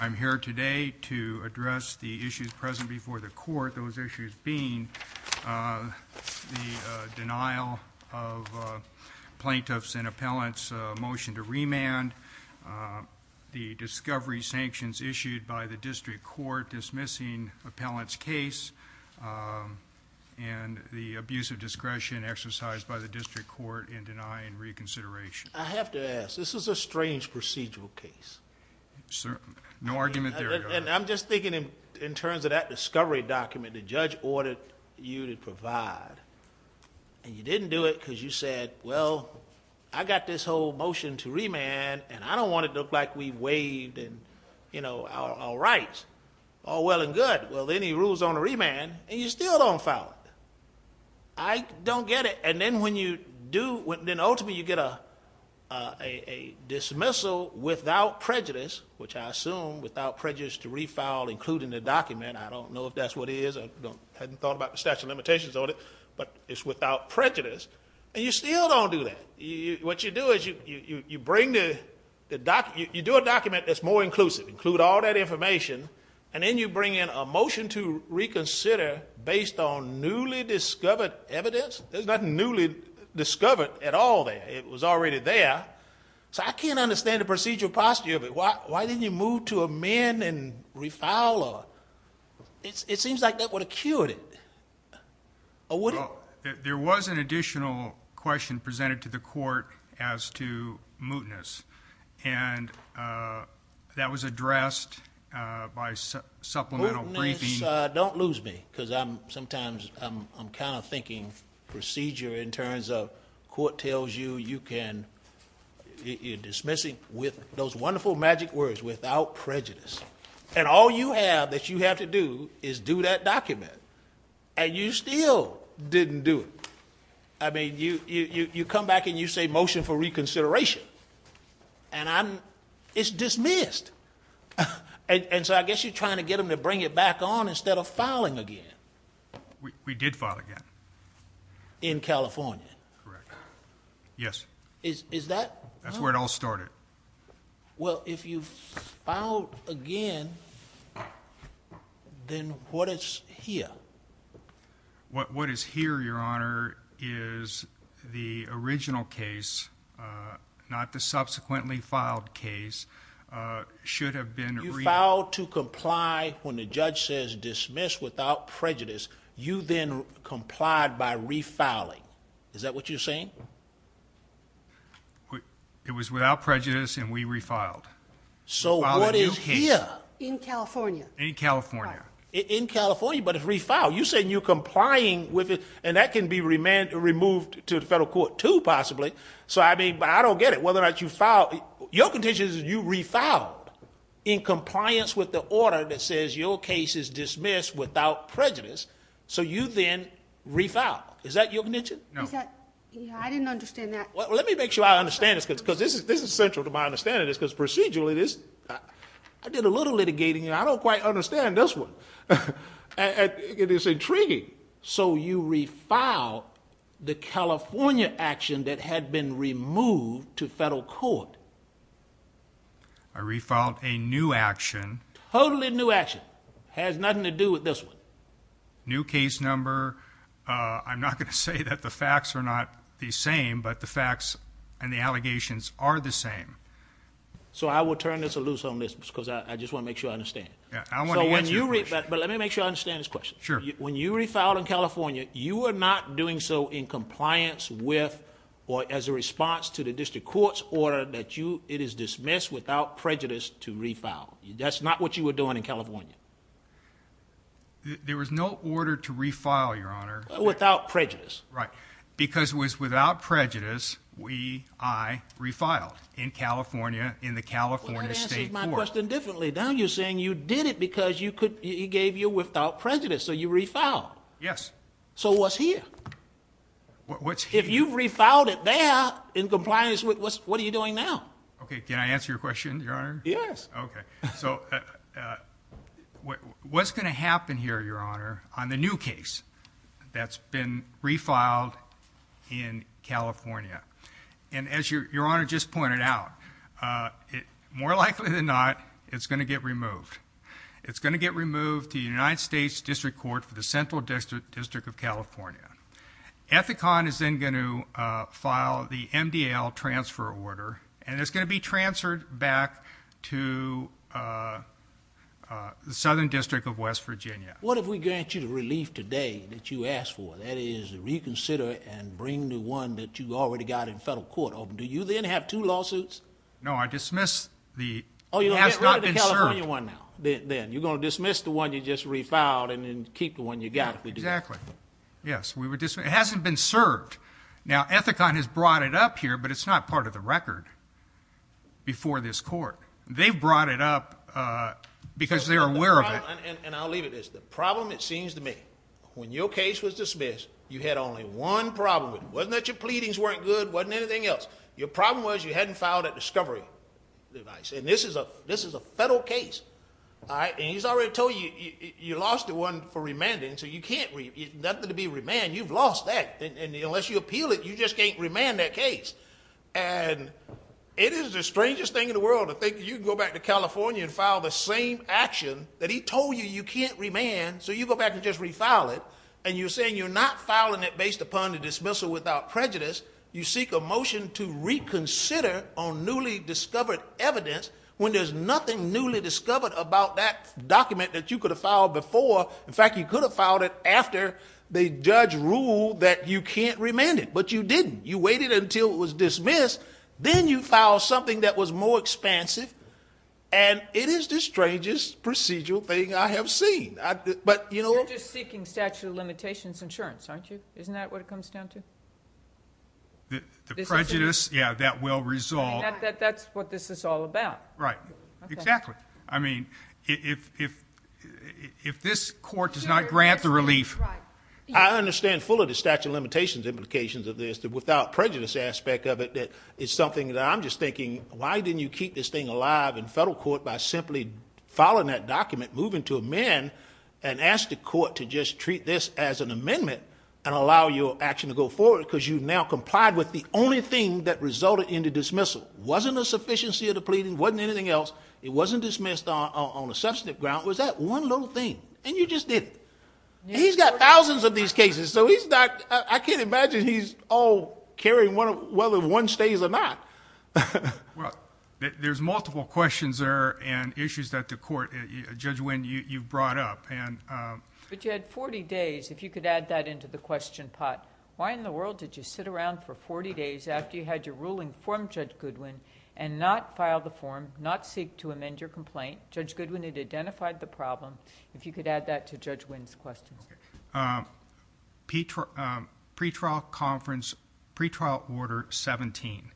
I'm here today to address the issues present before the court, those issues being the denial of plaintiffs' and appellants' motion to remand, the discovery sanctions issued by the district court dismissing appellants' case, and the abuse of discretion exercised by the district court in denying reconsideration. I have to ask, this is a strange procedural case. No argument there, Your Honor. And I'm just thinking in terms of that discovery document the judge ordered you to provide, and you didn't do it because you said, well, I got this whole motion to remand, and I don't want it to look like we waived and, you know, all right, all well and good. Well, then he rules on a remand, and you still don't file it. I don't get it. And then ultimately you get a dismissal without prejudice, which I assume without prejudice to refile, including the document, I don't know if that's what it is, I hadn't thought about the statute of limitations on it, but it's without prejudice, and you still don't do that. What you do is you do a document that's more inclusive, include all that information, and then you bring in a motion to reconsider based on newly discovered evidence. There's nothing newly discovered at all there. It was already there. So I can't understand the procedural posture of it. Why didn't you move to amend and refile? It seems like that would have cured it, or would it? There was an additional question presented to the court as to mootness, and that was addressed by supplemental briefing. Don't lose me, because sometimes I'm kind of thinking procedure in terms of court tells you you can, you're dismissing with those wonderful magic words, without prejudice. And all you have that you have to do is do that document, and you still didn't do it. I mean, you come back and you say motion for reconsideration, and it's dismissed. And so I guess you're trying to get them to bring it back on instead of filing again. We did file again. In California? Correct. Yes. Is that... That's where it all started. Well, if you filed again, then what is here? What is here, Your Honor, is the original case, not the subsequently filed case, should have been... You filed to comply when the judge says dismiss without prejudice. You then complied by refiling. Is that what you're saying? It was without prejudice, and we refiled. So what is here? In California? In California. In California, but it's refiled. You said you're complying with it, and that can be removed to the federal court too, possibly. So I don't get it, whether or not you filed... your condition is you refiled in compliance with the order that says your case is dismissed without prejudice. So you then refiled. Is that your condition? No. I didn't understand that. Well, let me make sure I understand this, because this is central to my understanding, because procedurally this... I did a little litigating, and I don't quite understand this one. It is intriguing. So you refiled the California action that had been removed to federal court. I refiled a new action. Totally new action. Has nothing to do with this one. New case number. I'm not going to say that the facts are not the same, but the facts and the allegations are the same. So I will turn this loose on this, because I just want to make sure I understand. Yeah. I want to answer your question. But let me make sure I understand this question. Sure. When you refiled in California, you were not doing so in compliance with or as a response to the district court's order that it is dismissed without prejudice to refile. That's not what you were doing in California. There was no order to refile, Your Honor. Without prejudice. Right. Because it was without prejudice, we... I... refiled in California, in the California State Court. Well, that answers my question differently. Now you're saying you did it because you could... he gave you without prejudice, so you refiled. Yes. So what's here? What's here? If you've refiled it there in compliance with... what are you doing now? Okay. Can I answer your question, Your Honor? Yes. Okay. So what's going to happen here, Your Honor, on the new case that's been refiled in California? And as Your Honor just pointed out, more likely than not, it's going to get removed. It's going to get removed to the United States District Court for the Central District of California. Ethicon is then going to file the MDL transfer order, and it's going to be transferred back to the Southern District of West Virginia. What have we granted you the relief today that you asked for? That is, reconsider and bring the one that you already got in federal court over. Do you then have two lawsuits? No, I dismissed the... Oh, you're going to get rid of the California one now? It has not been served. Then you're going to dismiss the one you just refiled and then keep the one you got if we do that? Exactly. Yes. It hasn't been served. Now, Ethicon has brought it up here, but it's not part of the record before this court. They've brought it up because they're aware of it. And I'll leave it at this. The problem, it seems to me, when your case was dismissed, you had only one problem with it. It wasn't that your pleadings weren't good. It wasn't anything else. Your problem was you hadn't filed that discovery device, and this is a federal case, and he's already told you, you lost the one for remanding, so you can't... nothing to be remanded. You've lost that. Unless you appeal it, you just can't remand that case, and it is the strangest thing in the world to think you can go back to California and file the same action that he told you you can't remand, so you go back and just refile it, and you're saying you're not filing it based upon the dismissal without prejudice. You seek a motion to reconsider on newly discovered evidence when there's nothing newly discovered about that document that you could have filed before. In fact, you could have filed it after the judge ruled that you can't remand it. But you didn't. You waited until it was dismissed. Then you filed something that was more expansive, and it is the strangest procedural thing I have seen. But... You're just seeking statute of limitations insurance, aren't you? Isn't that what it comes down to? The prejudice? Yeah, that will resolve... That's what this is all about. Right. Exactly. I mean, if this court does not grant the relief... Right. I understand full of the statute of limitations implications of this, the without prejudice aspect of it, that it's something that I'm just thinking, why didn't you keep this thing by simply filing that document, moving to amend, and ask the court to just treat this as an amendment and allow your action to go forward because you've now complied with the only thing that resulted in the dismissal. Wasn't a sufficiency of the pleading, wasn't anything else. It wasn't dismissed on a substantive ground. Was that one little thing, and you just did it. He's got thousands of these cases, so he's not... I can't imagine he's all carrying whether one stays or not. Well, there's multiple questions there and issues that the court... Judge Wynne, you've brought up. But you had forty days, if you could add that into the question pot. Why in the world did you sit around for forty days after you had your ruling from Judge Goodwin and not file the form, not seek to amend your complaint? Judge Goodwin had identified the problem. If you could add that to Judge Wynne's question. Pre-trial conference, pre-trial order 17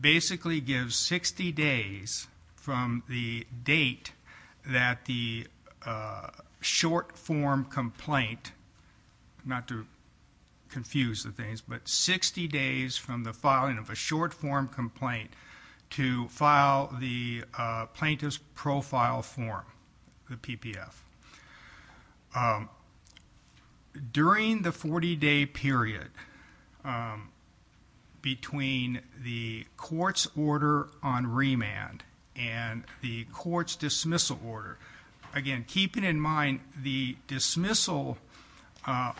basically gives sixty days from the date that the short form complaint, not to confuse the things, but sixty days from the filing of a short During the forty-day period between the court's order on remand and the court's dismissal order, again, keeping in mind the dismissal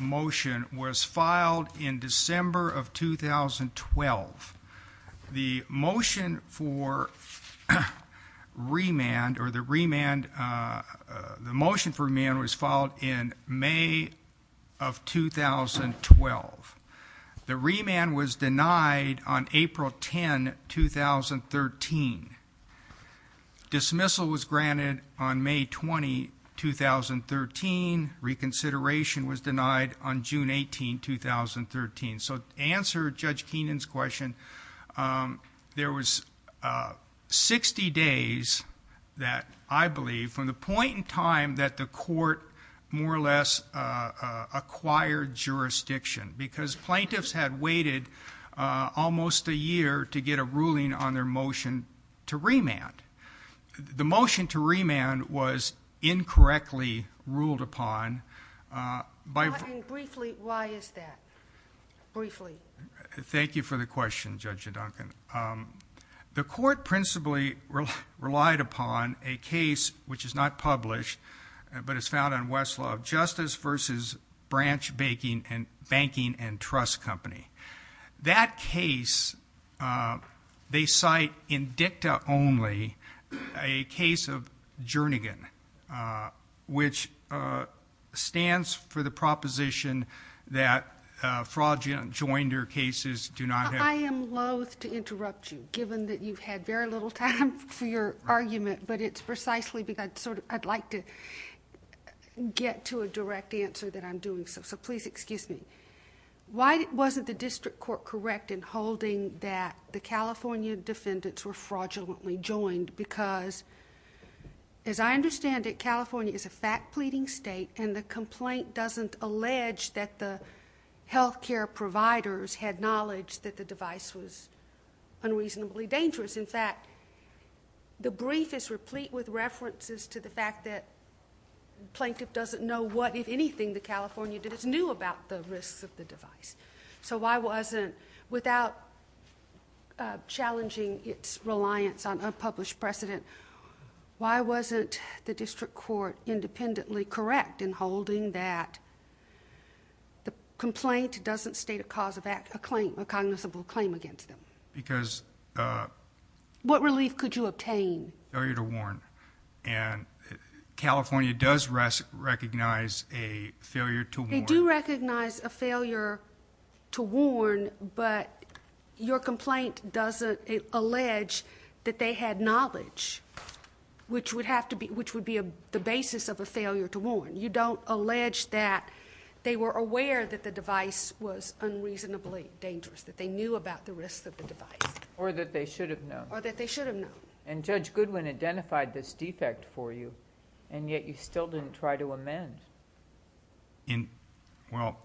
motion was filed in December of 2012. The motion for remand was filed in May of 2012. The remand was denied on April 10, 2013. Dismissal was granted on May 20, 2013. Reconsideration was denied on June 18, 2013. So to answer Judge Keenan's question, there was sixty days that, I believe, from the point in time that the court more or less acquired jurisdiction, because plaintiffs had waited almost a year to get a ruling on their motion to remand. The motion to remand was incorrectly ruled upon by Why is that? Thank you for the question, Judge Duncan. The court principally relied upon a case, which is not published, but is found on West Law of Justice v. Branch Banking and Trust Company. That case, they cite in dicta only, a case of Jernigan, which stands for the proposition that fraudulent joinder cases do not have I am loathe to interrupt you, given that you've had very little time for your argument, but it's precisely because I'd like to get to a direct answer that I'm doing, so please excuse me. Why wasn't the district court correct in holding that the California defendants were fraudulently joined, because as I understand it, California is a fact-pleading state, and the complaint doesn't allege that the health care providers had knowledge that the device was unreasonably dangerous. In fact, the brief is replete with references to the fact that the plaintiff doesn't know what, if anything, the California defendants knew about the risks of the device. So why wasn't, without challenging its reliance on unpublished precedent, why wasn't the district court independently correct in holding that the complaint doesn't state a cause of act, a claim, a cognizable claim against them? Because... What relief could you obtain? Failure to warn, and California does recognize a failure to warn. They do recognize a failure to warn, but your complaint doesn't allege that they had knowledge, which would be the basis of a failure to warn. You don't allege that they were aware that the device was unreasonably dangerous, that they knew about the risks of the device. Or that they should have known. Or that they should have known. And Judge Goodwin identified this defect for you, and yet you still didn't try to amend. Well,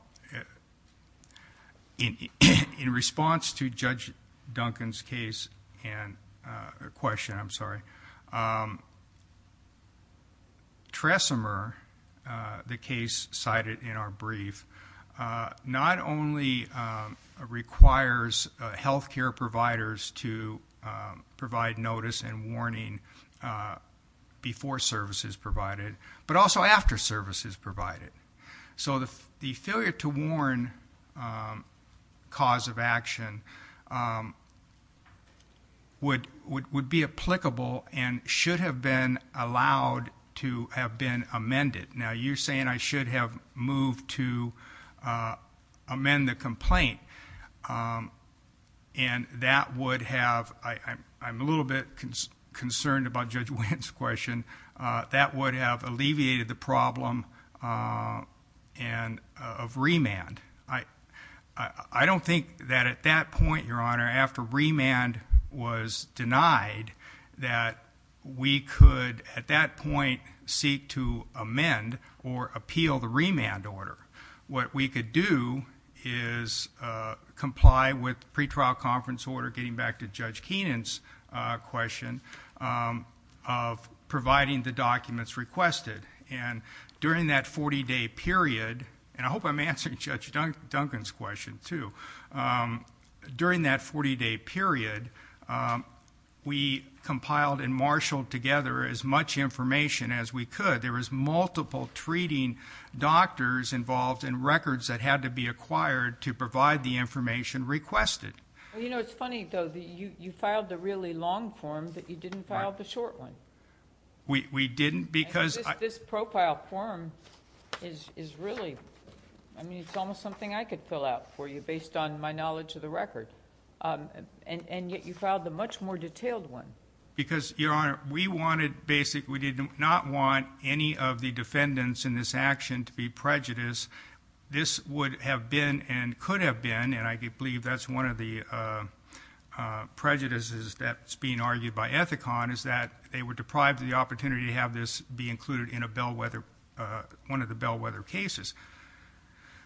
in response to Judge Duncan's question, Tresemer, the case cited in our brief, not only requires health care providers to provide notice and warning before service is provided, but also after service is provided. So the failure to warn cause of action would be applicable and should have been allowed to have been amended. Now, you're saying I should have moved to amend the complaint, and that would have... I'm a little bit concerned about Judge Wendt's question. That would have alleviated the problem of remand. I don't think that at that point, Your Honor, after remand was denied, that we could at that point seek to amend or appeal the remand order. What we could do is comply with pretrial conference order, getting back to Judge Keenan's question, of providing the documents requested. And during that 40-day period, and I hope I'm answering Judge Duncan's question, too. During that 40-day period, we compiled and marshaled together as much information as we could. There was multiple treating doctors involved and records that had to be acquired to provide the information requested. Well, you know, it's funny, though. You filed the really long form, but you didn't file the short one. We didn't because... This profile form is really... I mean, it's almost something I could fill out for you based on my knowledge of the record, and yet you filed the much more detailed one. Because Your Honor, we wanted basically... we did not want any of the defendants in this action to be prejudiced. This would have been and could have been, and I believe that's one of the prejudices that's being argued by Ethicon, is that they were deprived of the opportunity to have this be included in a Bellwether... one of the Bellwether cases.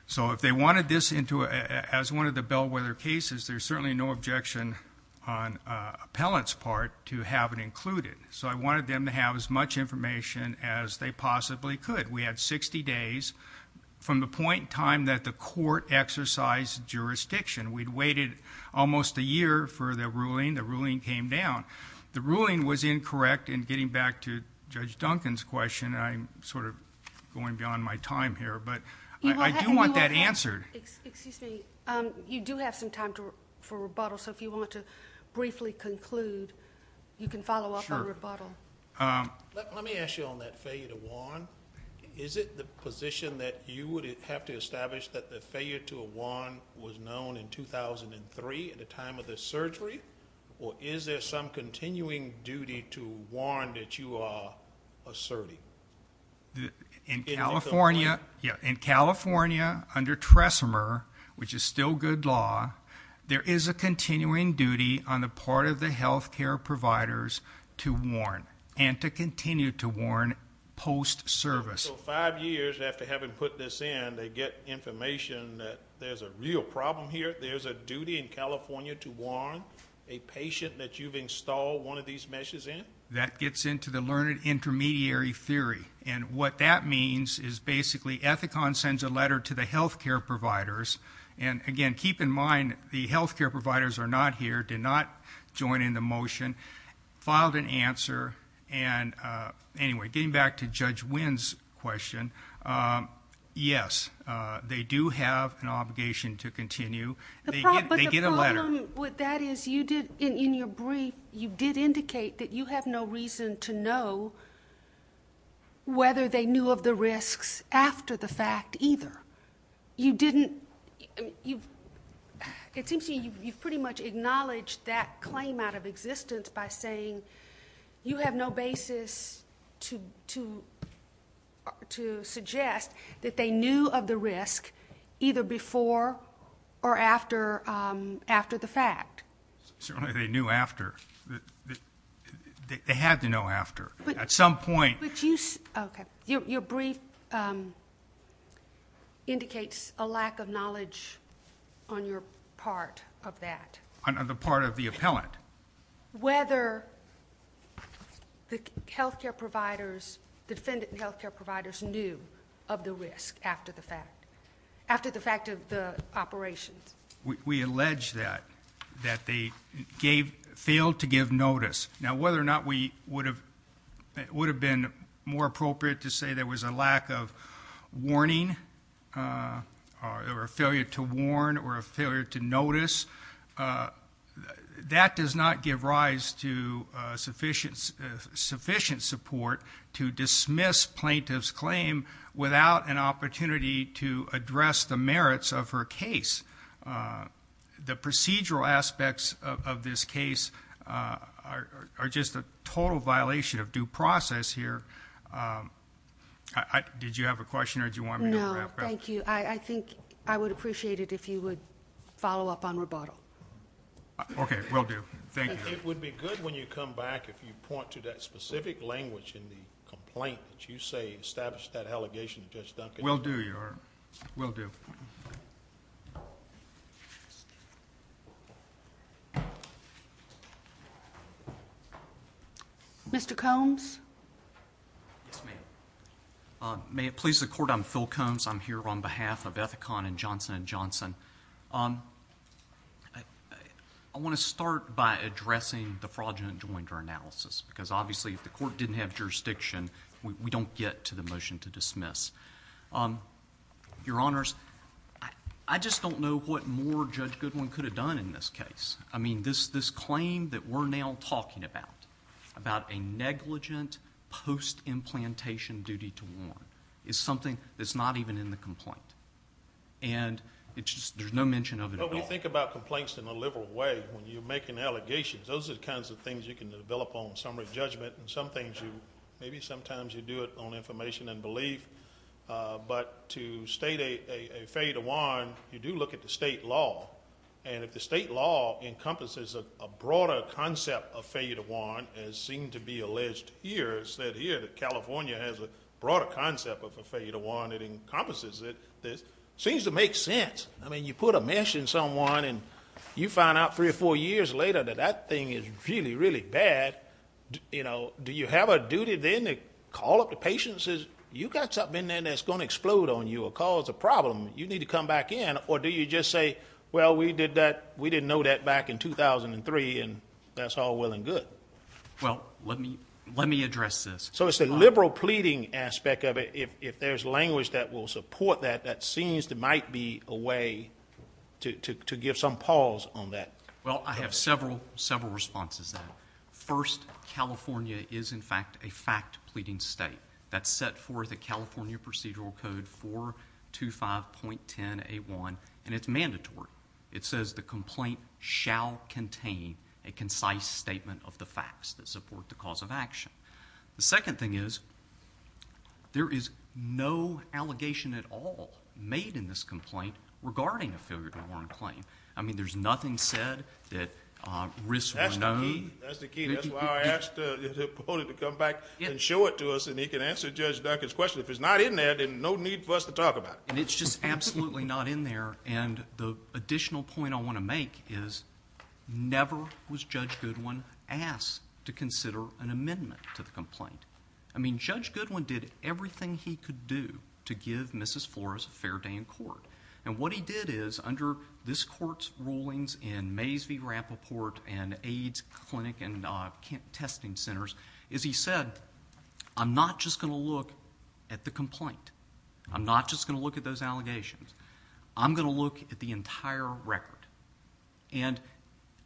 So, if they wanted this as one of the Bellwether cases, there's certainly no objection on an appellant's part to have it included. So, I wanted them to have as much information as they possibly could. We had 60 days from the point in time that the court exercised jurisdiction. We'd waited almost a year for the ruling. The ruling came down. The ruling was incorrect in getting back to Judge Duncan's question, and I'm sort of going beyond my time here, but I do want that answered. Excuse me. You do have some time for rebuttal, so if you want to briefly conclude, you can follow up on rebuttal. Sure. Let me ask you on that failure to warn. Is it the position that you would have to establish that the failure to warn was known in 2003 at the time of the surgery, or is there some continuing duty to warn that you are asserting? In California? Yeah. In California, under TRESMR, which is still good law, there is a continuing duty on the part of the healthcare providers to warn and to continue to warn post-service. So, five years after having put this in, they get information that there's a real problem here. There's a duty in California to warn a patient that you've installed one of these measures in? That gets into the learned intermediary theory. What that means is, basically, Ethicon sends a letter to the healthcare providers, and again, keep in mind, the healthcare providers are not here, did not join in the motion, filed an answer, and anyway, getting back to Judge Winn's question, yes, they do have an obligation to continue. They get a letter. But the problem with that is, in your brief, you did indicate that you have no reason to know whether they knew of the risks after the fact, either. You didn't, you've, it seems to me, you've pretty much acknowledged that claim out of existence by saying, you have no basis to suggest that they knew of the risk either before or after the fact. Certainly, they knew after, they had to know after, at some point. Your brief indicates a lack of knowledge on your part of that. On the part of the appellant. Whether the healthcare providers, defendant and healthcare providers knew of the risk after the fact, after the fact of the operations. We allege that, that they gave, failed to give notice. Now whether or not we would have, it would have been more appropriate to say there was a lack of warning, or a failure to warn, or a failure to notice. That does not give rise to sufficient support to dismiss plaintiff's claim without an opportunity to address the merits of her case. The procedural aspects of this case are just a total violation of due process here. Did you have a question, or did you want me to wrap up? No, thank you. I think I would appreciate it if you would follow up on rebuttal. Okay, will do. Thank you. It would be good when you come back, if you point to that specific language in the complaint that you say established that allegation to Judge Duncan. Will do, Your Honor, will do. Mr. Combs? Yes, ma'am. May it please the Court, I'm Phil Combs, I'm here on behalf of Ethicon and Johnson & Johnson. I want to start by addressing the fraudulent jointer analysis, because obviously if the Your Honors, I just don't know what more Judge Goodwin could have done in this case. I mean, this claim that we're now talking about, about a negligent post-implantation duty to warn, is something that's not even in the complaint, and there's no mention of it at all. Well, when you think about complaints in a liberal way, when you're making allegations, those are the kinds of things you can develop on summary judgment, and some things you, maybe sometimes you do it on information and belief, but to state a failure to warn, you do look at the state law, and if the state law encompasses a broader concept of failure to warn, as seemed to be alleged here, it said here that California has a broader concept of a failure to warn, it encompasses it, it seems to make sense. I mean, you put a mesh in someone, and you find out three or four years later that that thing is really, really bad. Do you have a duty then to call up the patient and say, you've got something in there that's going to explode on you, or cause a problem, you need to come back in, or do you just say, well, we did that, we didn't know that back in 2003, and that's all well and good? Well, let me address this. So it's a liberal pleading aspect of it, if there's language that will support that, that seems there might be a way to give some pause on that. Well, I have several responses to that. First, California is, in fact, a fact pleading state. That's set forth in California Procedural Code 425.10A1, and it's mandatory. It says the complaint shall contain a concise statement of the facts that support the cause of action. The second thing is, there is no allegation at all made in this complaint regarding a failure to warn claim. I mean, there's nothing said that risks were known. That's the key. That's why I asked the opponent to come back and show it to us, and he can answer Judge Duncan's question. If it's not in there, then no need for us to talk about it. It's just absolutely not in there, and the additional point I want to make is, never was Judge Goodwin asked to consider an amendment to the complaint. I mean, Judge Goodwin did everything he could do to give Mrs. Flores a fair day in court, and what he did is, under this court's rulings in Mays v. Rappaport and AIDS clinic and testing centers, is he said, I'm not just going to look at the complaint. I'm not just going to look at those allegations. I'm going to look at the entire record, and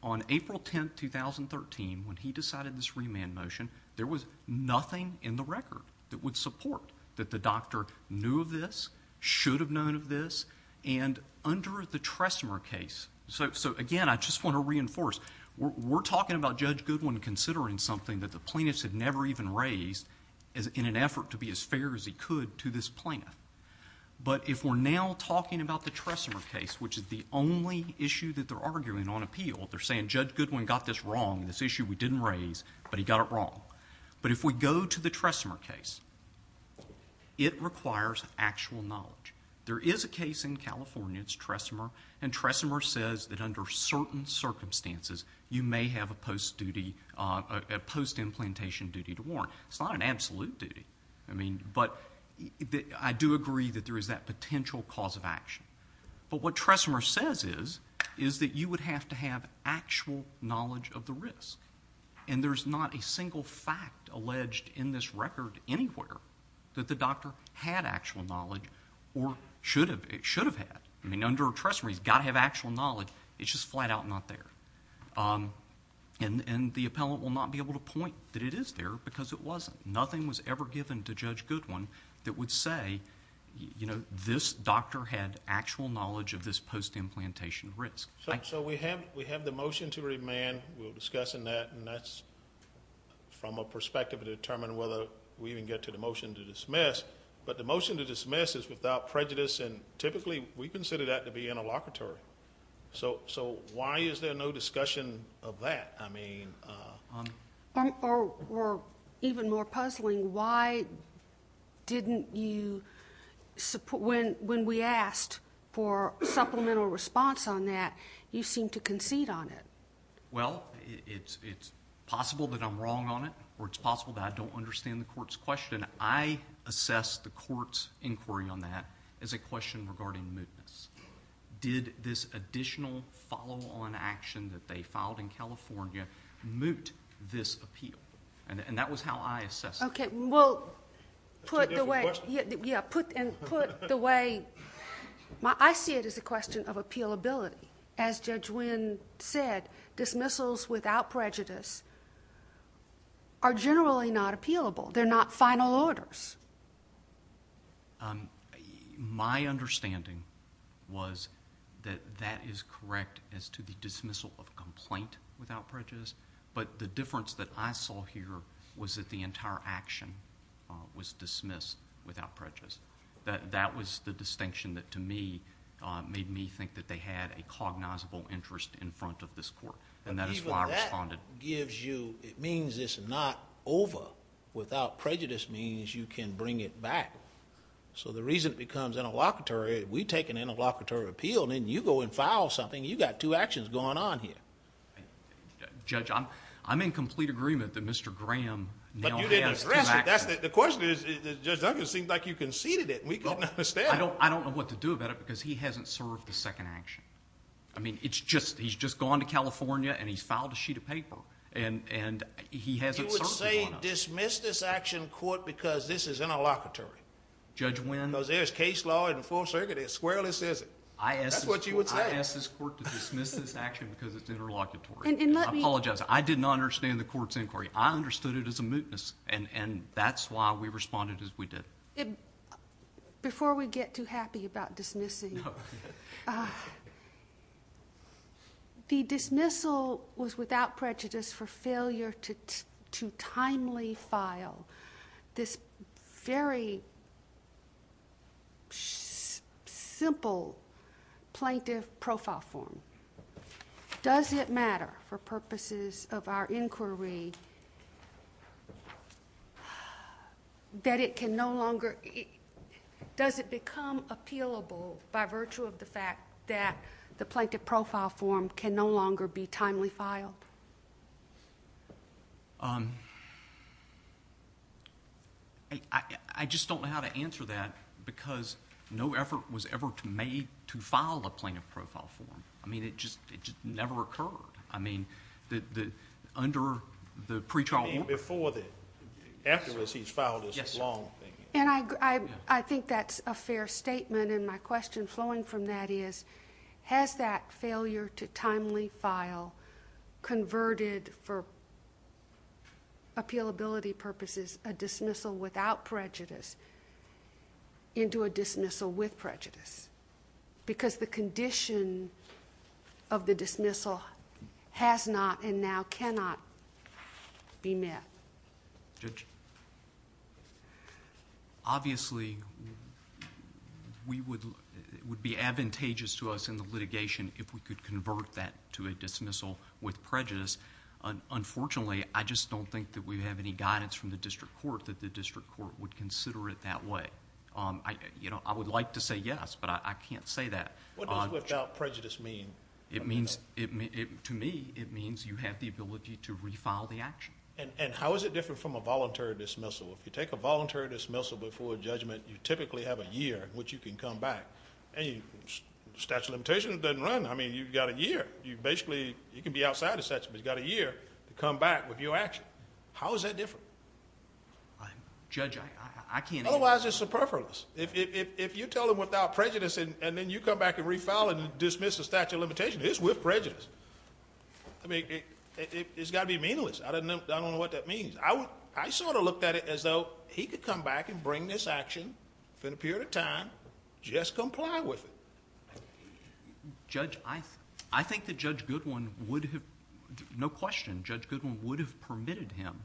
on April 10, 2013, when he decided this remand motion, there was nothing in the record that would support that the doctor knew of this, should have known of this, and under the Tressmer case... So again, I just want to reinforce, we're talking about Judge Goodwin considering something that the plaintiffs had never even raised in an effort to be as fair as he could to this plaintiff, but if we're now talking about the Tressmer case, which is the only issue that they're arguing on appeal, they're saying Judge Goodwin got this wrong, this issue we didn't raise, but he got it wrong. But if we go to the Tressmer case, it requires actual knowledge. There is a case in California, it's Tressmer, and Tressmer says that under certain circumstances, you may have a post-implantation duty to warrant. It's not an absolute duty, but I do agree that there is that potential cause of action, but what Tressmer says is, is that you would have to have actual knowledge of the risk, and there's not a single fact alleged in this record anywhere that the doctor had actual knowledge, or should have, it should have had. I mean, under a Tressmer, he's got to have actual knowledge, it's just flat out not there. And the appellant will not be able to point that it is there, because it wasn't. Nothing was ever given to Judge Goodwin that would say, you know, this doctor had actual knowledge of this post-implantation risk. So we have the motion to remand, we'll discuss in that, and that's from a perspective to determine whether we even get to the motion to dismiss. But the motion to dismiss is without prejudice, and typically, we consider that to be interlocutory. So why is there no discussion of that, I mean? Or even more puzzling, why didn't you, when we asked for supplemental response on that, you seemed to concede on it. Well, it's possible that I'm wrong on it, or it's possible that I don't understand the court's question. I assess the court's inquiry on that as a question regarding mootness. Did this additional follow-on action that they filed in California moot this appeal? And that was how I assessed it. Okay, well, put the way— That's a different question. Yeah, put the way— I see it as a question of appealability. As Judge Wynn said, dismissals without prejudice are generally not appealable. They're not final orders. My understanding was that that is correct as to the dismissal of complaint without prejudice, but the difference that I saw here was that the entire action was dismissed without prejudice. That was the distinction that, to me, made me think that they had a cognizable interest in front of this court, and that is why I responded. But even that gives you... it means it's not over. Without prejudice means you can bring it back. So the reason it becomes interlocutory, we take an interlocutory appeal, and then you go and file something, you've got two actions going on here. Judge, I'm in complete agreement that Mr. Graham now has two actions. But you didn't address it. The question is, Judge Duncan, it seems like you conceded it. We couldn't understand. I don't know what to do about it, because he hasn't served the second action. I mean, he's just gone to California, and he's filed a sheet of paper, and he hasn't served one of them. He would say, dismiss this action, court, because this is interlocutory. Judge Wynn... Because there's case law in the Fourth Circuit, it squarely says it. I asked this court to dismiss this action because it's interlocutory. I apologize. I did not understand the court's inquiry. I understood it as a mootness, and that's why we responded as we did. Before we get too happy about dismissing, the dismissal was without prejudice for failure to timely file this very simple plaintiff profile form. Does it matter, for purposes of our inquiry, that it can no longer... Does it become appealable by virtue of the fact that the plaintiff profile form can no longer be timely filed? I just don't know how to answer that, because no effort was ever made to file a plaintiff profile form. It just never occurred under the pretrial order. Before then. Afterwards, he's filed this long thing. I think that's a fair statement, and my question flowing from that is, has that failure to timely file converted, for appealability purposes, because the condition of the dismissal has not and now cannot be met? Judge? Obviously, it would be advantageous to us in the litigation if we could convert that to a dismissal with prejudice. Unfortunately, I just don't think that we have any guidance from the district court that the district court would consider it that way. I would like to say yes, but I can't say that. What does without prejudice mean? To me, it means you have the ability to refile the action. How is it different from a voluntary dismissal? If you take a voluntary dismissal before a judgment, you typically have a year in which you can come back. Statute of limitations doesn't run, I mean, you've got a year. Basically, you can be outside the statute, but you've got a year to come How is that different? Judge, I can't answer that. Otherwise, it's superfluous. If you tell him without prejudice and then you come back and refile and dismiss the statute of limitations, it's with prejudice. I mean, it's got to be meaningless. I don't know what that means. I sort of looked at it as though he could come back and bring this action in a period of time, just comply with it. Judge, I think that Judge Goodwin would have... no question, Judge Goodwin would have permitted him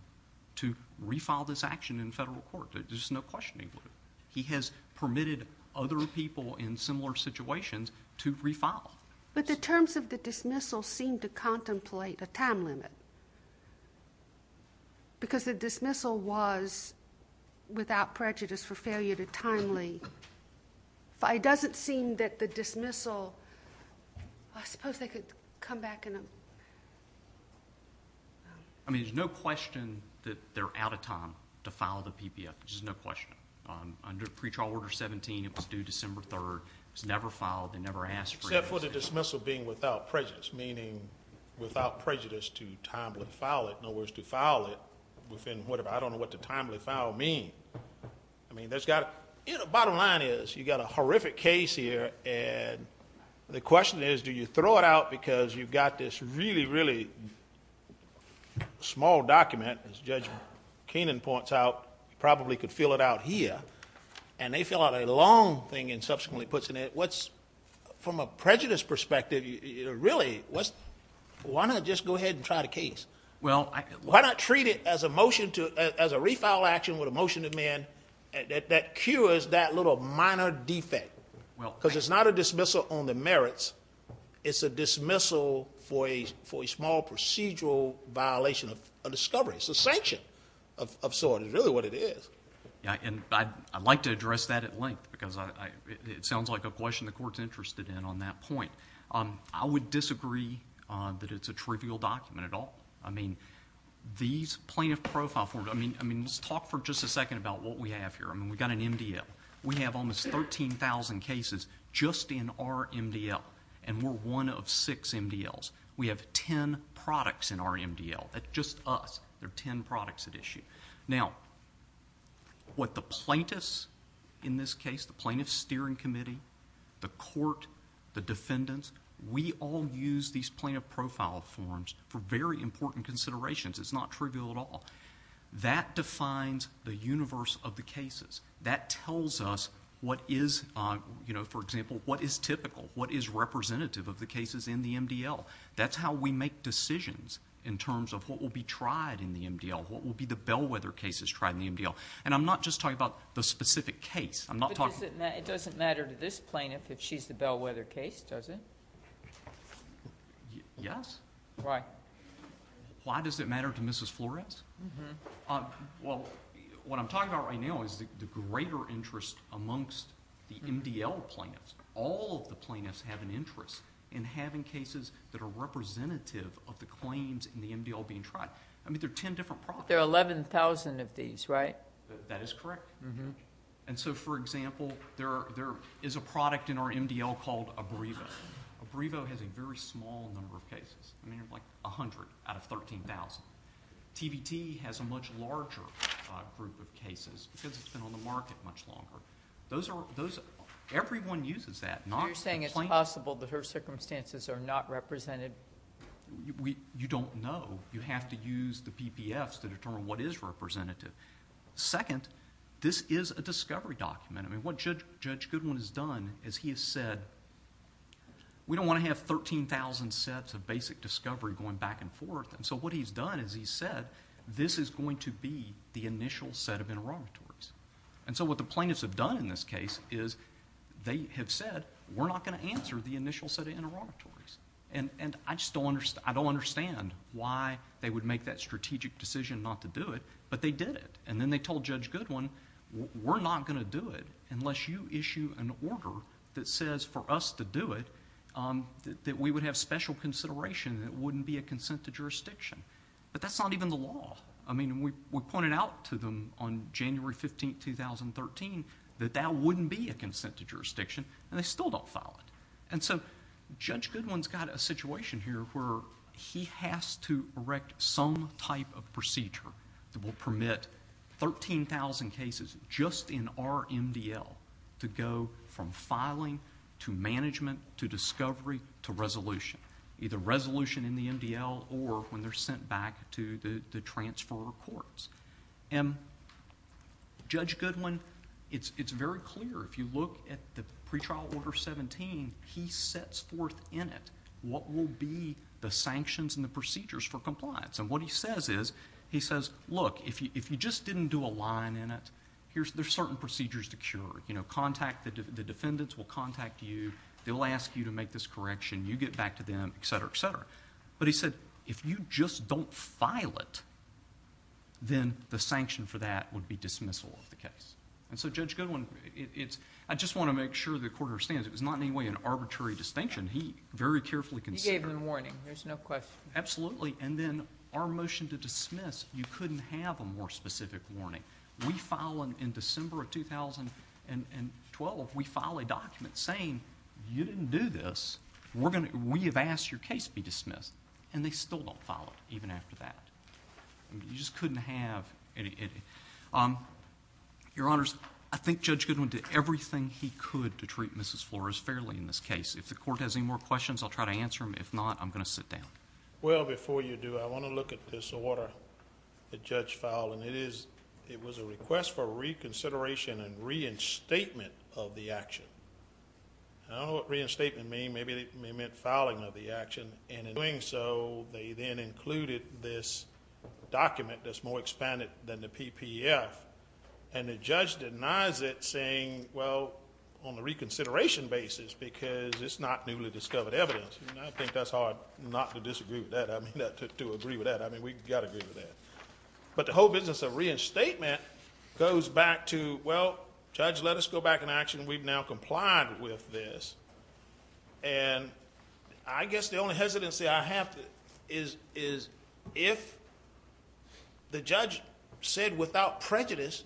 to refile this action in federal court. There's no question he would have. He has permitted other people in similar situations to refile. But the terms of the dismissal seem to contemplate a time limit because the dismissal was without prejudice for failure to timely... but it doesn't seem that the dismissal... I suppose they could come back in a... I mean, there's no question that they're out of time to file the PPF. There's no question. Under pretrial order 17, it was due December 3rd. It was never filed. They never asked for it. Except for the dismissal being without prejudice, meaning without prejudice to timely file it. In other words, to file it within whatever... I don't know what the timely file means. I mean, that's got to... you know, bottom line is, you've got a horrific case here and the question is, do you throw it out because you've got this really, really small document, as Judge Keenan points out, you probably could fill it out here, and they fill out a long thing and subsequently puts it in. What's... from a prejudice perspective, really, why not just go ahead and try the case? Why not treat it as a motion to... as a refile action with a motion to amend that cures that little minor defect because it's not a dismissal on the merits. It's a dismissal for a small procedural violation of a discovery. It's a sanction of sort, is really what it is. Yeah, and I'd like to address that at length because it sounds like a question the court's interested in on that point. I would disagree that it's a trivial document at all. I mean, these plaintiff profile... I mean, let's talk for just a second about what we have here. I mean, we've got an MDL. We have almost 13,000 cases just in our MDL, and we're one of six MDLs. We have ten products in our MDL. That's just us. There are ten products at issue. Now, what the plaintiffs in this case, the Plaintiff Steering Committee, the court, the defendants, we all use these plaintiff profile forms for very important considerations. It's not trivial at all. That defines the universe of the cases. That tells us what is... for example, what is typical? What is representative of the cases in the MDL? That's how we make decisions in terms of what will be tried in the MDL, what will be the bellwether cases tried in the MDL. I'm not just talking about the specific case. I'm not talking... It doesn't matter to this plaintiff if she's the bellwether case, does it? Yes. Why? Why does it matter to Mrs. Flores? Well, what I'm talking about right now is the greater interest amongst the MDL plaintiffs. All of the plaintiffs have an interest in having cases that are representative of the claims in the MDL being tried. I mean, there are ten different products. There are 11,000 of these, right? That is correct. For example, there is a product in our MDL called Abrevo. Abrevo has a very small number of cases. I mean, like a hundred out of 13,000. TBT has a much larger group of cases because it's been on the market much longer. Everyone uses that. You're saying it's possible that her circumstances are not represented? You don't know. You have to use the PPFs to determine what is representative. Second, this is a discovery document. What Judge Goodwin has done is he has said, we don't want to have 13,000 sets of basic discovery going back and forth. What he's done is he said, this is going to be the initial set of interrogatories. What the plaintiffs have done in this case is they have said, we're not going to answer the initial set of interrogatories. I don't understand why they would make that strategic decision not to do it, but they did it. Then they told Judge Goodwin, we're not going to do it unless you issue an order that says for us to do it, that we would have special consideration that it wouldn't be a consent to jurisdiction. That's not even the law. We pointed out to them on January 15, 2013 that that wouldn't be a consent to jurisdiction and they still don't file it. Judge Goodwin's got a situation here where he has to erect some type of procedure that will permit 13,000 cases just in our MDL to go from filing to management to discovery to resolution, either resolution in the MDL or when they're sent back to the transfer courts. Judge Goodwin, it's very clear, if you look at the pretrial order 17, he sets forth in it what will be the sanctions and the procedures for compliance. What he says is, he says, look, if you just didn't do a line in it, there's certain procedures to cure. The defendants will contact you. They'll ask you to make this correction. You get back to them, et cetera, et cetera. He said, if you just don't file it, then the sanction for that would be dismissal of the case. Judge Goodwin, I just want to make sure the court understands, it was not in any way an arbitrary distinction. He very carefully considered... He gave him a warning. There's no question. Absolutely. Then our motion to dismiss, you couldn't have a more specific warning. We file in December of 2012, we file a document saying, you didn't do this. We have asked your case be dismissed, and they still don't file it even after that. You just couldn't have... Your Honors, I think Judge Goodwin did everything he could to treat Mrs. Flores fairly in this case. If the court has any more questions, I'll try to answer them. If not, I'm going to sit down. Well, before you do, I want to look at this order that Judge fouled, and it was a request for reconsideration and reinstatement of the action. I don't know what reinstatement means. Maybe it meant fouling of the action, and in doing so, they then included this document that's more expanded than the PPF, and the judge denies it, saying, well, on a reconsideration basis, because it's not newly discovered evidence. I think that's hard not to disagree with that, I mean, to agree with that. We've got to agree with that. But the whole business of reinstatement goes back to, well, Judge, let us go back in action. We've now complied with this. I guess the only hesitancy I have is, if the judge said without prejudice,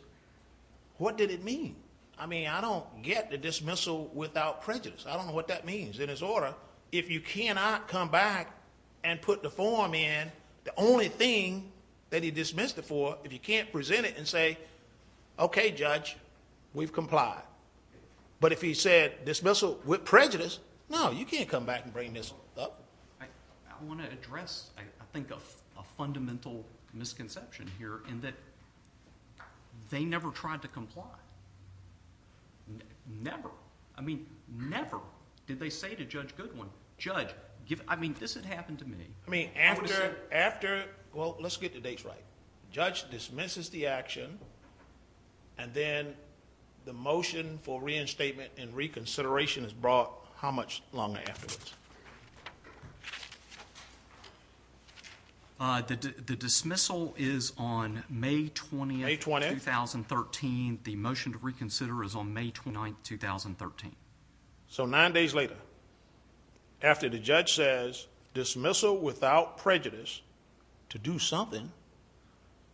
what did it mean? I mean, I don't get the dismissal without prejudice. I don't know what that means. In this order, if you cannot come back and put the form in, the only thing that he dismissed it for, if you can't present it and say, okay, Judge, we've complied. But if he said dismissal with prejudice, no, you can't come back and bring this up. I want to address, I think, a fundamental misconception here, in that they never tried to comply. Never. I mean, never. Did they say to Judge Goodwin, Judge, I mean, this had happened to me. I mean, after, well, let's get the dates right. Judge dismisses the action, and then the motion for reinstatement and reconsideration is brought how much longer afterwards? The dismissal is on May 20th, 2013. The motion to reconsider is on May 29th, 2013. So, nine days later, after the judge says dismissal without prejudice to do something,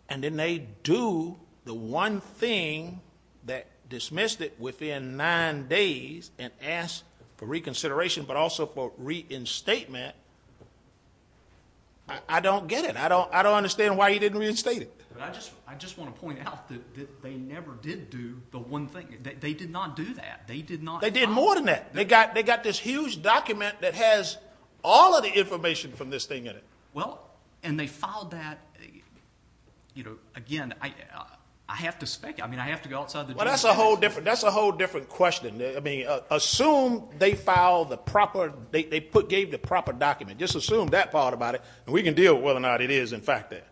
and then they do the one thing that dismissed it within nine days and ask for reconsideration, but also for reinstatement, I don't get it. I don't understand why he didn't reinstate it. I just want to point out that they never did do the one thing. They did not do that. They did more than that. They got this huge document that has all of the information from this thing in it. Well, and they filed that, you know, again, I have to speak, I mean, I have to go outside the jury. Well, that's a whole different question. I mean, assume they filed the proper, they gave the proper document. Just assume that part about it, and we can deal with whether or not it is in fact that.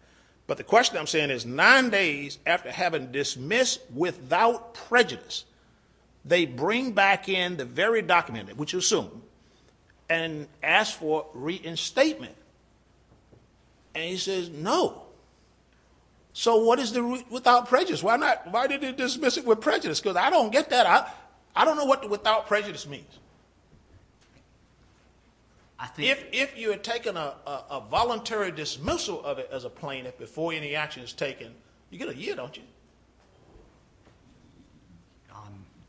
But the question I'm saying is, nine days after having dismissed without prejudice, they bring back in the very document, which you assume, and ask for reinstatement. And he says, no. So, what is the without prejudice? Why did they dismiss it with prejudice? Because I don't get that. I don't know what the without prejudice means. If you had taken a voluntary dismissal of it as a plaintiff before any action is taken, you get a year, don't you?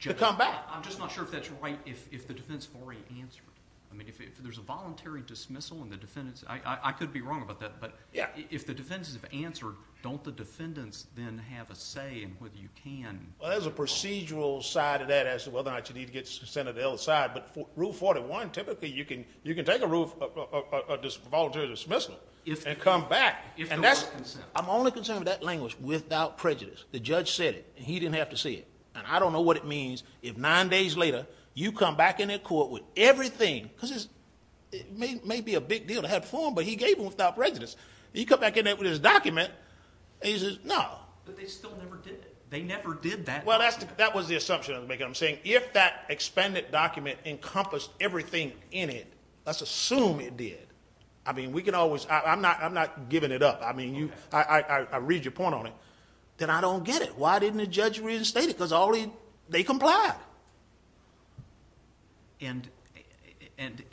To come back. I'm just not sure if that's right, if the defendants have already answered it. I mean, if there's a voluntary dismissal and the defendants, I could be wrong about that, but if the defendants have answered, don't the defendants then have a say in whether you can? Well, there's a procedural side of that as to whether or not you need to get consent of the other side, but Rule 41, typically you can take a voluntary dismissal and come back. If there was consent. I'm only concerned with that language, without prejudice. The judge said it, and he didn't have to see it, and I don't know what it means if nine days later, you come back in that court with everything, because it may be a big deal to have a form, but he gave them without prejudice. You come back in there with his document, and he says, no. But they still never did. They never did that. Well, that was the assumption I was making. I'm saying, if that expanded document encompassed everything in it, let's assume it did. I mean, we can always, I'm not giving it up. I read your point on it. Then I don't get it. Why didn't the judge reinstate it? Because they complied.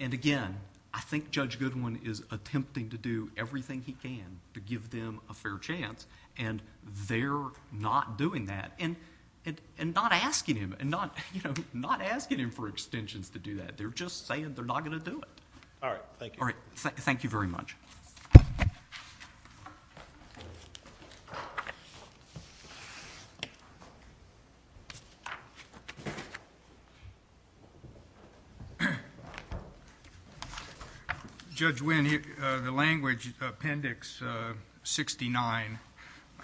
Again, I think Judge Goodwin is attempting to do everything he can to give them a fair chance, and they're not doing that, and not asking him for extensions to do that. They're just saying they're not going to do it. All right. Thank you. All right. Thank you. Judge Winn, the language, Appendix 69,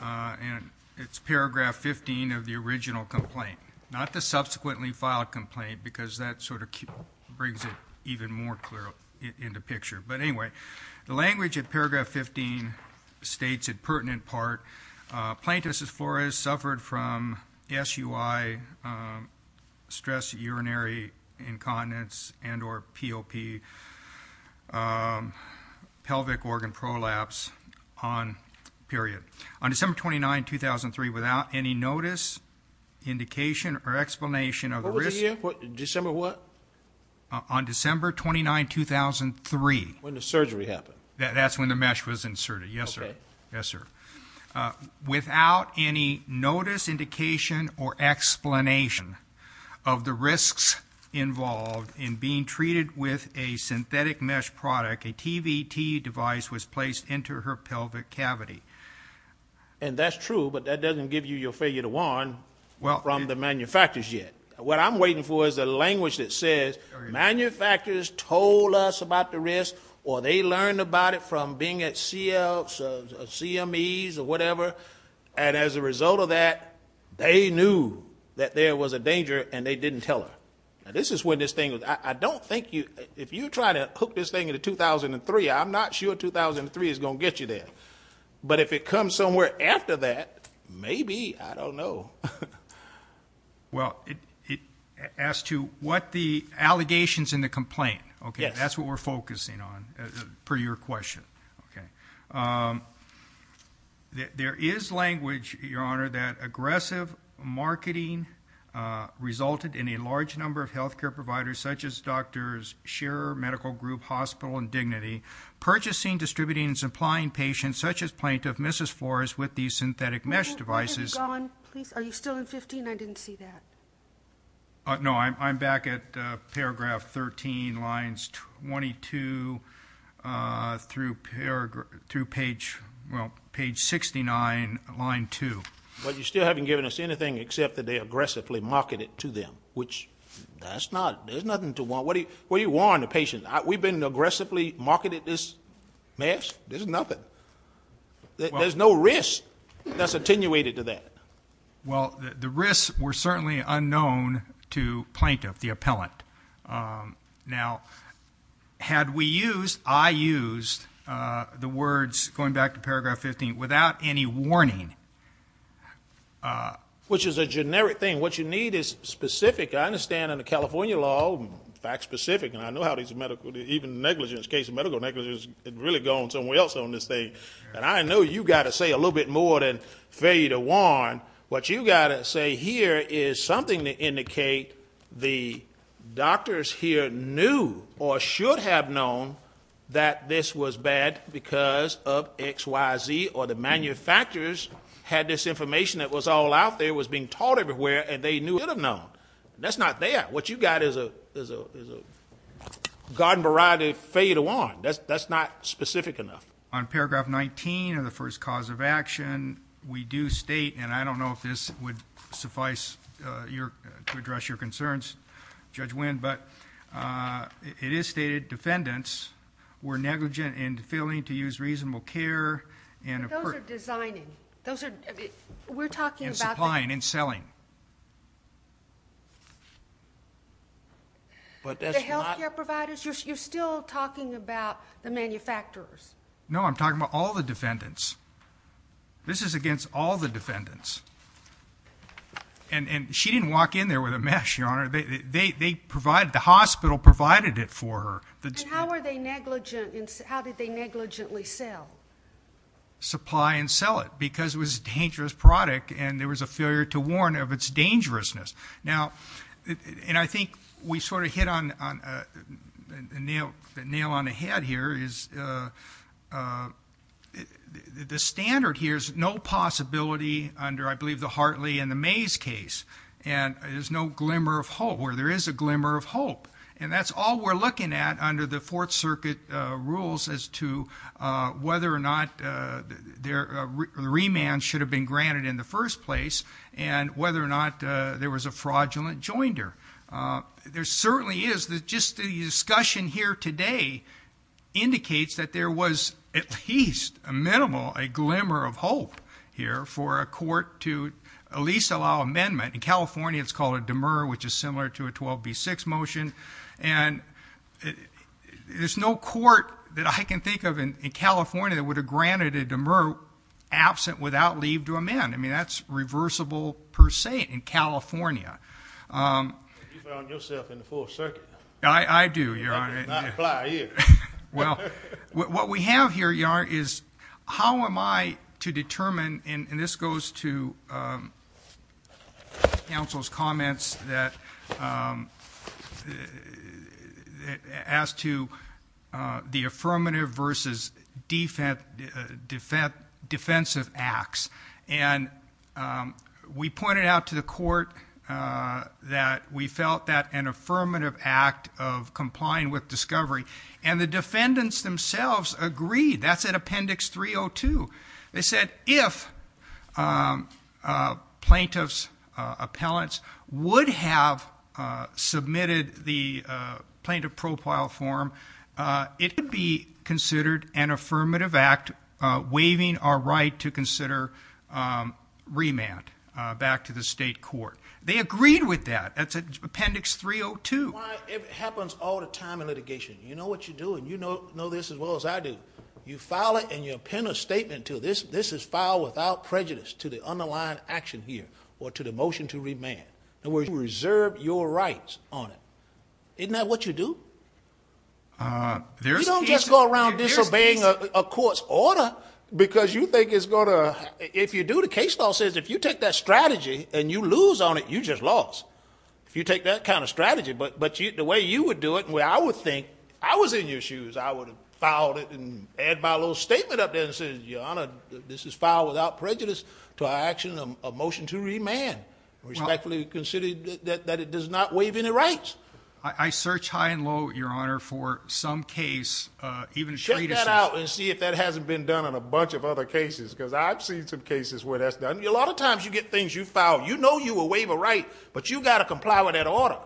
and it's Paragraph 15 of the original complaint. Not the subsequently filed complaint, because that sort of brings it even more clearly into picture. But anyway, the language of Paragraph 15 states, in pertinent part, Plaintiff, Mrs. Flores, suffered from SUI, stress urinary incontinence, and or POP, pelvic organ prolapse, on, period. On December 29, 2003, without any notice, indication, or explanation of the risk. What was the year? December what? On December 29, 2003. When the surgery happened. That's when the mesh was inserted, yes, sir. Okay. Yes, sir. Without any notice, indication, or explanation of the risks involved in being treated with a synthetic mesh product, a TVT device was placed into her pelvic cavity. And that's true, but that doesn't give you your failure to warn from the manufacturers yet. What I'm waiting for is a language that says, manufacturers told us about the risk, or they learned about it from being at CMEs, or whatever, and as a result of that, they knew that there was a danger, and they didn't tell her. Now, this is when this thing, I don't think you, if you try to hook this thing into 2003, I'm not sure 2003 is going to get you there. But if it comes somewhere after that, maybe, I don't know. Well, as to what the allegations in the complaint, okay, that's what we're focusing on, per your question. Okay. There is language, Your Honor, that aggressive marketing resulted in a large number of health care providers, such as doctors, Shearer Medical Group, Hospital, and Dignity, purchasing, distributing, and supplying patients, such as plaintiff Mrs. Flores, with these synthetic mesh devices. Where have you gone? Are you still in 15? I didn't see that. No, I'm back at paragraph 13, lines 22, through page 69, line 2. But you still haven't given us anything except that they aggressively marketed it to them, which that's not, there's nothing to warn, what do you warn the patient? We've been aggressively marketed this mesh, there's nothing. There's no risk that's attenuated to that. Well, the risks were certainly unknown to plaintiff, the appellant. Now, had we used, I used the words, going back to paragraph 15, without any warning. Which is a generic thing, what you need is specific, I understand in the California law, fact specific, and I know how these medical, even negligence, case of medical negligence, is really going somewhere else on this thing. And I know you've got to say a little bit more than failure to warn. What you've got to say here is something to indicate the doctors here knew, or should have known, that this was bad because of X, Y, Z, or the manufacturers had this information that was all out there, was being taught everywhere, and they knew it would have known. That's not there. What you've got is a garden variety failure to warn. That's not specific enough. On paragraph 19 of the first cause of action, we do state, and I don't know if this would suffice to address your concerns, Judge Winn, but it is stated, defendants were negligent in failing to use reasonable care. But those are designing. We're talking about... And supplying and selling. The health care providers? You're still talking about the manufacturers? No, I'm talking about all the defendants. This is against all the defendants. And she didn't walk in there with a mesh, Your Honor. They provided, the hospital provided it for her. And how did they negligently sell? Supply and sell it, because it was a dangerous product, and there was a failure to warn of its dangerousness. Now, and I think we sort of hit on the nail on the head here, is the standard here is no possibility under, I believe, the Hartley and the Mays case. And there's no glimmer of hope. Or there is a glimmer of hope. And that's all we're looking at under the Fourth Circuit rules as to whether or not the remand should have been granted in the first place, and whether or not there was a fraudulent joinder. There certainly is, just the discussion here today indicates that there was at least a minimal, a glimmer of hope here for a court to at least allow amendment. In California, it's called a demur, which is similar to a 12B6 motion. And there's no court that I can think of in California that would have granted a demur absent without leave to amend. I mean, that's reversible per se in California. You found yourself in the Fourth Circuit. I do, Your Honor. Not a fly either. Well, what we have here, Your Honor, is how am I to determine, and this goes to counsel's comments that as to the affirmative versus defensive acts, and we pointed out to the court that we felt that an affirmative act of complying with discovery, and the defendants themselves agreed. That's in Appendix 302. They said if plaintiff's appellants would have submitted the plaintiff profile form, it would be considered an affirmative act, waiving our right to consider remand back to the state court. They agreed with that. That's Appendix 302. It happens all the time in litigation. You know what you're doing. You know this as well as I do. You file it and you append a statement to it. This is filed without prejudice to the underlying action here or to the motion to remand. In other words, you reserve your rights on it. Isn't that what you do? You don't just go around disobeying a court's order because you think it's going to... If you do, the case law says if you take that strategy and you lose on it, you just lost. If you take that kind of strategy, but the way you would do it, the way I would think, I was in your shoes. I would have filed it and add my little statement up there and say, Your Honor, this is filed without prejudice to our action of motion to remand. Respectfully consider that it does not waive any rights. I search high and low, Your Honor, for some case. Check that out and see if that hasn't been done on a bunch of other cases. Because I've seen some cases where that's done. A lot of times you get things you file, you know you will waive a right, but you've got to comply with that order.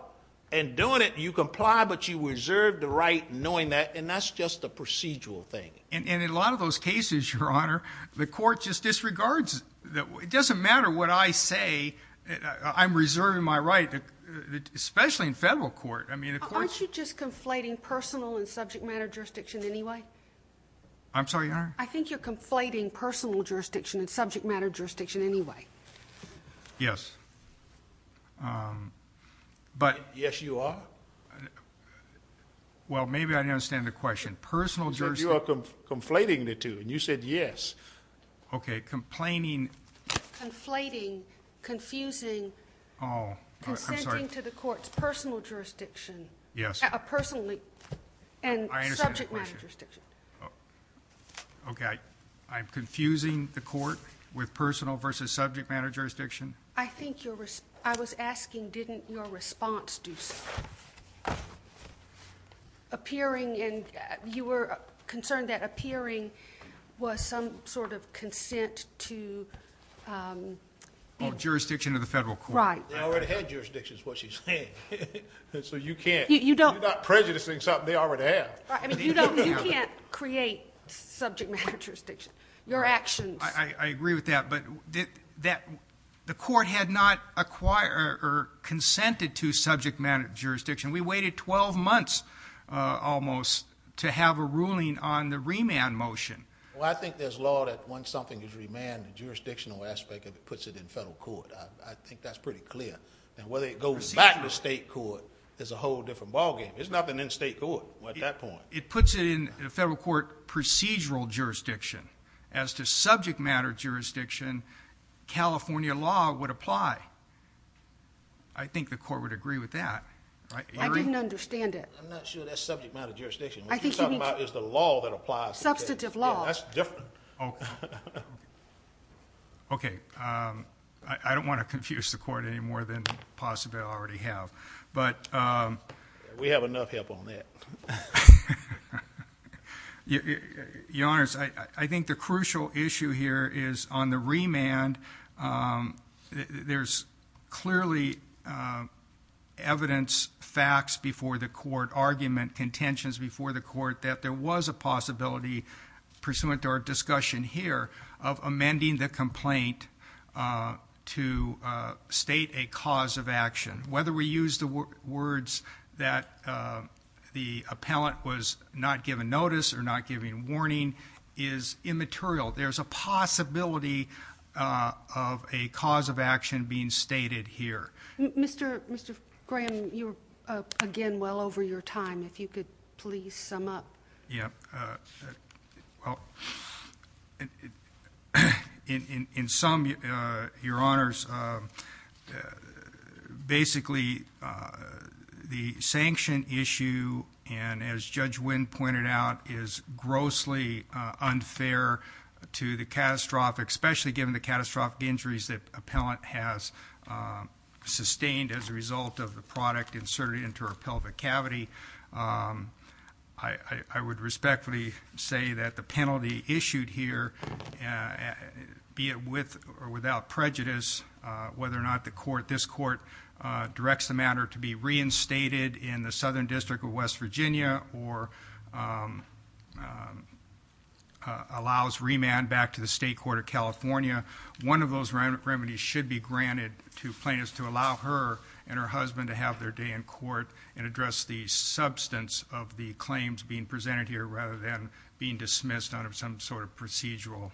And doing it, you comply, but you reserve the right knowing that, and that's just a procedural thing. And in a lot of those cases, Your Honor, the court just disregards it. It doesn't matter what I say, I'm reserving my right. Especially in federal court. Aren't you just conflating personal and subject matter jurisdiction anyway? I'm sorry, Your Honor? I think you're conflating personal jurisdiction and subject matter jurisdiction anyway. Yes. Yes, you are? Well, maybe I didn't understand the question. You said you are conflating the two, and you said yes. Okay, complaining... Consenting to the court's personal jurisdiction. Yes. And subject matter jurisdiction. Okay. I'm confusing the court with personal versus subject matter jurisdiction? I think you're... I was asking, didn't your response do something? Appearing in... You were concerned that appearing was some sort of consent to... Jurisdiction of the federal court. I already had jurisdiction, is what she's saying. So you can't... You're not prejudicing something they already have. You can't create subject matter jurisdiction. Your actions... I agree with that, but the court had not acquired or consented to subject matter jurisdiction. We waited 12 months, almost, to have a ruling on the remand motion. Well, I think there's law that once something is remanded, the jurisdictional aspect of it is pretty clear. And whether it goes back to state court is a whole different ballgame. There's nothing in state court at that point. It puts it in federal court procedural jurisdiction. As to subject matter jurisdiction, California law would apply. I think the court would agree with that. I didn't understand it. I'm not sure that's subject matter jurisdiction. What you're talking about is the law that applies. Substantive law. That's different. Okay. I don't want to confuse the court any more than possibly I already have. But... We have enough help on that. Your Honor, I think the crucial issue here is on the remand, there's clearly evidence, facts before the court, argument, contentions before the court that there was a possibility pursuant to our discussion here of amending the complaint to state a cause of action. Whether we use the words that the appellant was not given notice or not given warning is immaterial. There's a possibility of a cause of action being stated here. Mr. Graham, you're again well over your time. If you could please sum up. Yeah. Well, in sum, Your Honors, basically the sanction issue and as Judge Wynn pointed out is grossly unfair to the catastrophic, especially given the catastrophic injuries that appellant has sustained as a result of the product inserted into her pelvic cavity. I would respectfully say that the penalty issued here be it with or without prejudice, whether or not this court directs the matter to be reinstated in the Southern District of West Virginia or allows remand back to the State Court of California. One of those remedies should be granted to plaintiffs to allow her and her husband to have their day in court and address the substance of the claims being presented here rather than being dismissed under some sort of procedural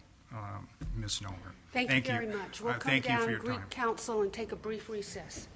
misnomer. Thank you very much. Thank you for your time. We'll come down to Greek Council and take a brief recess.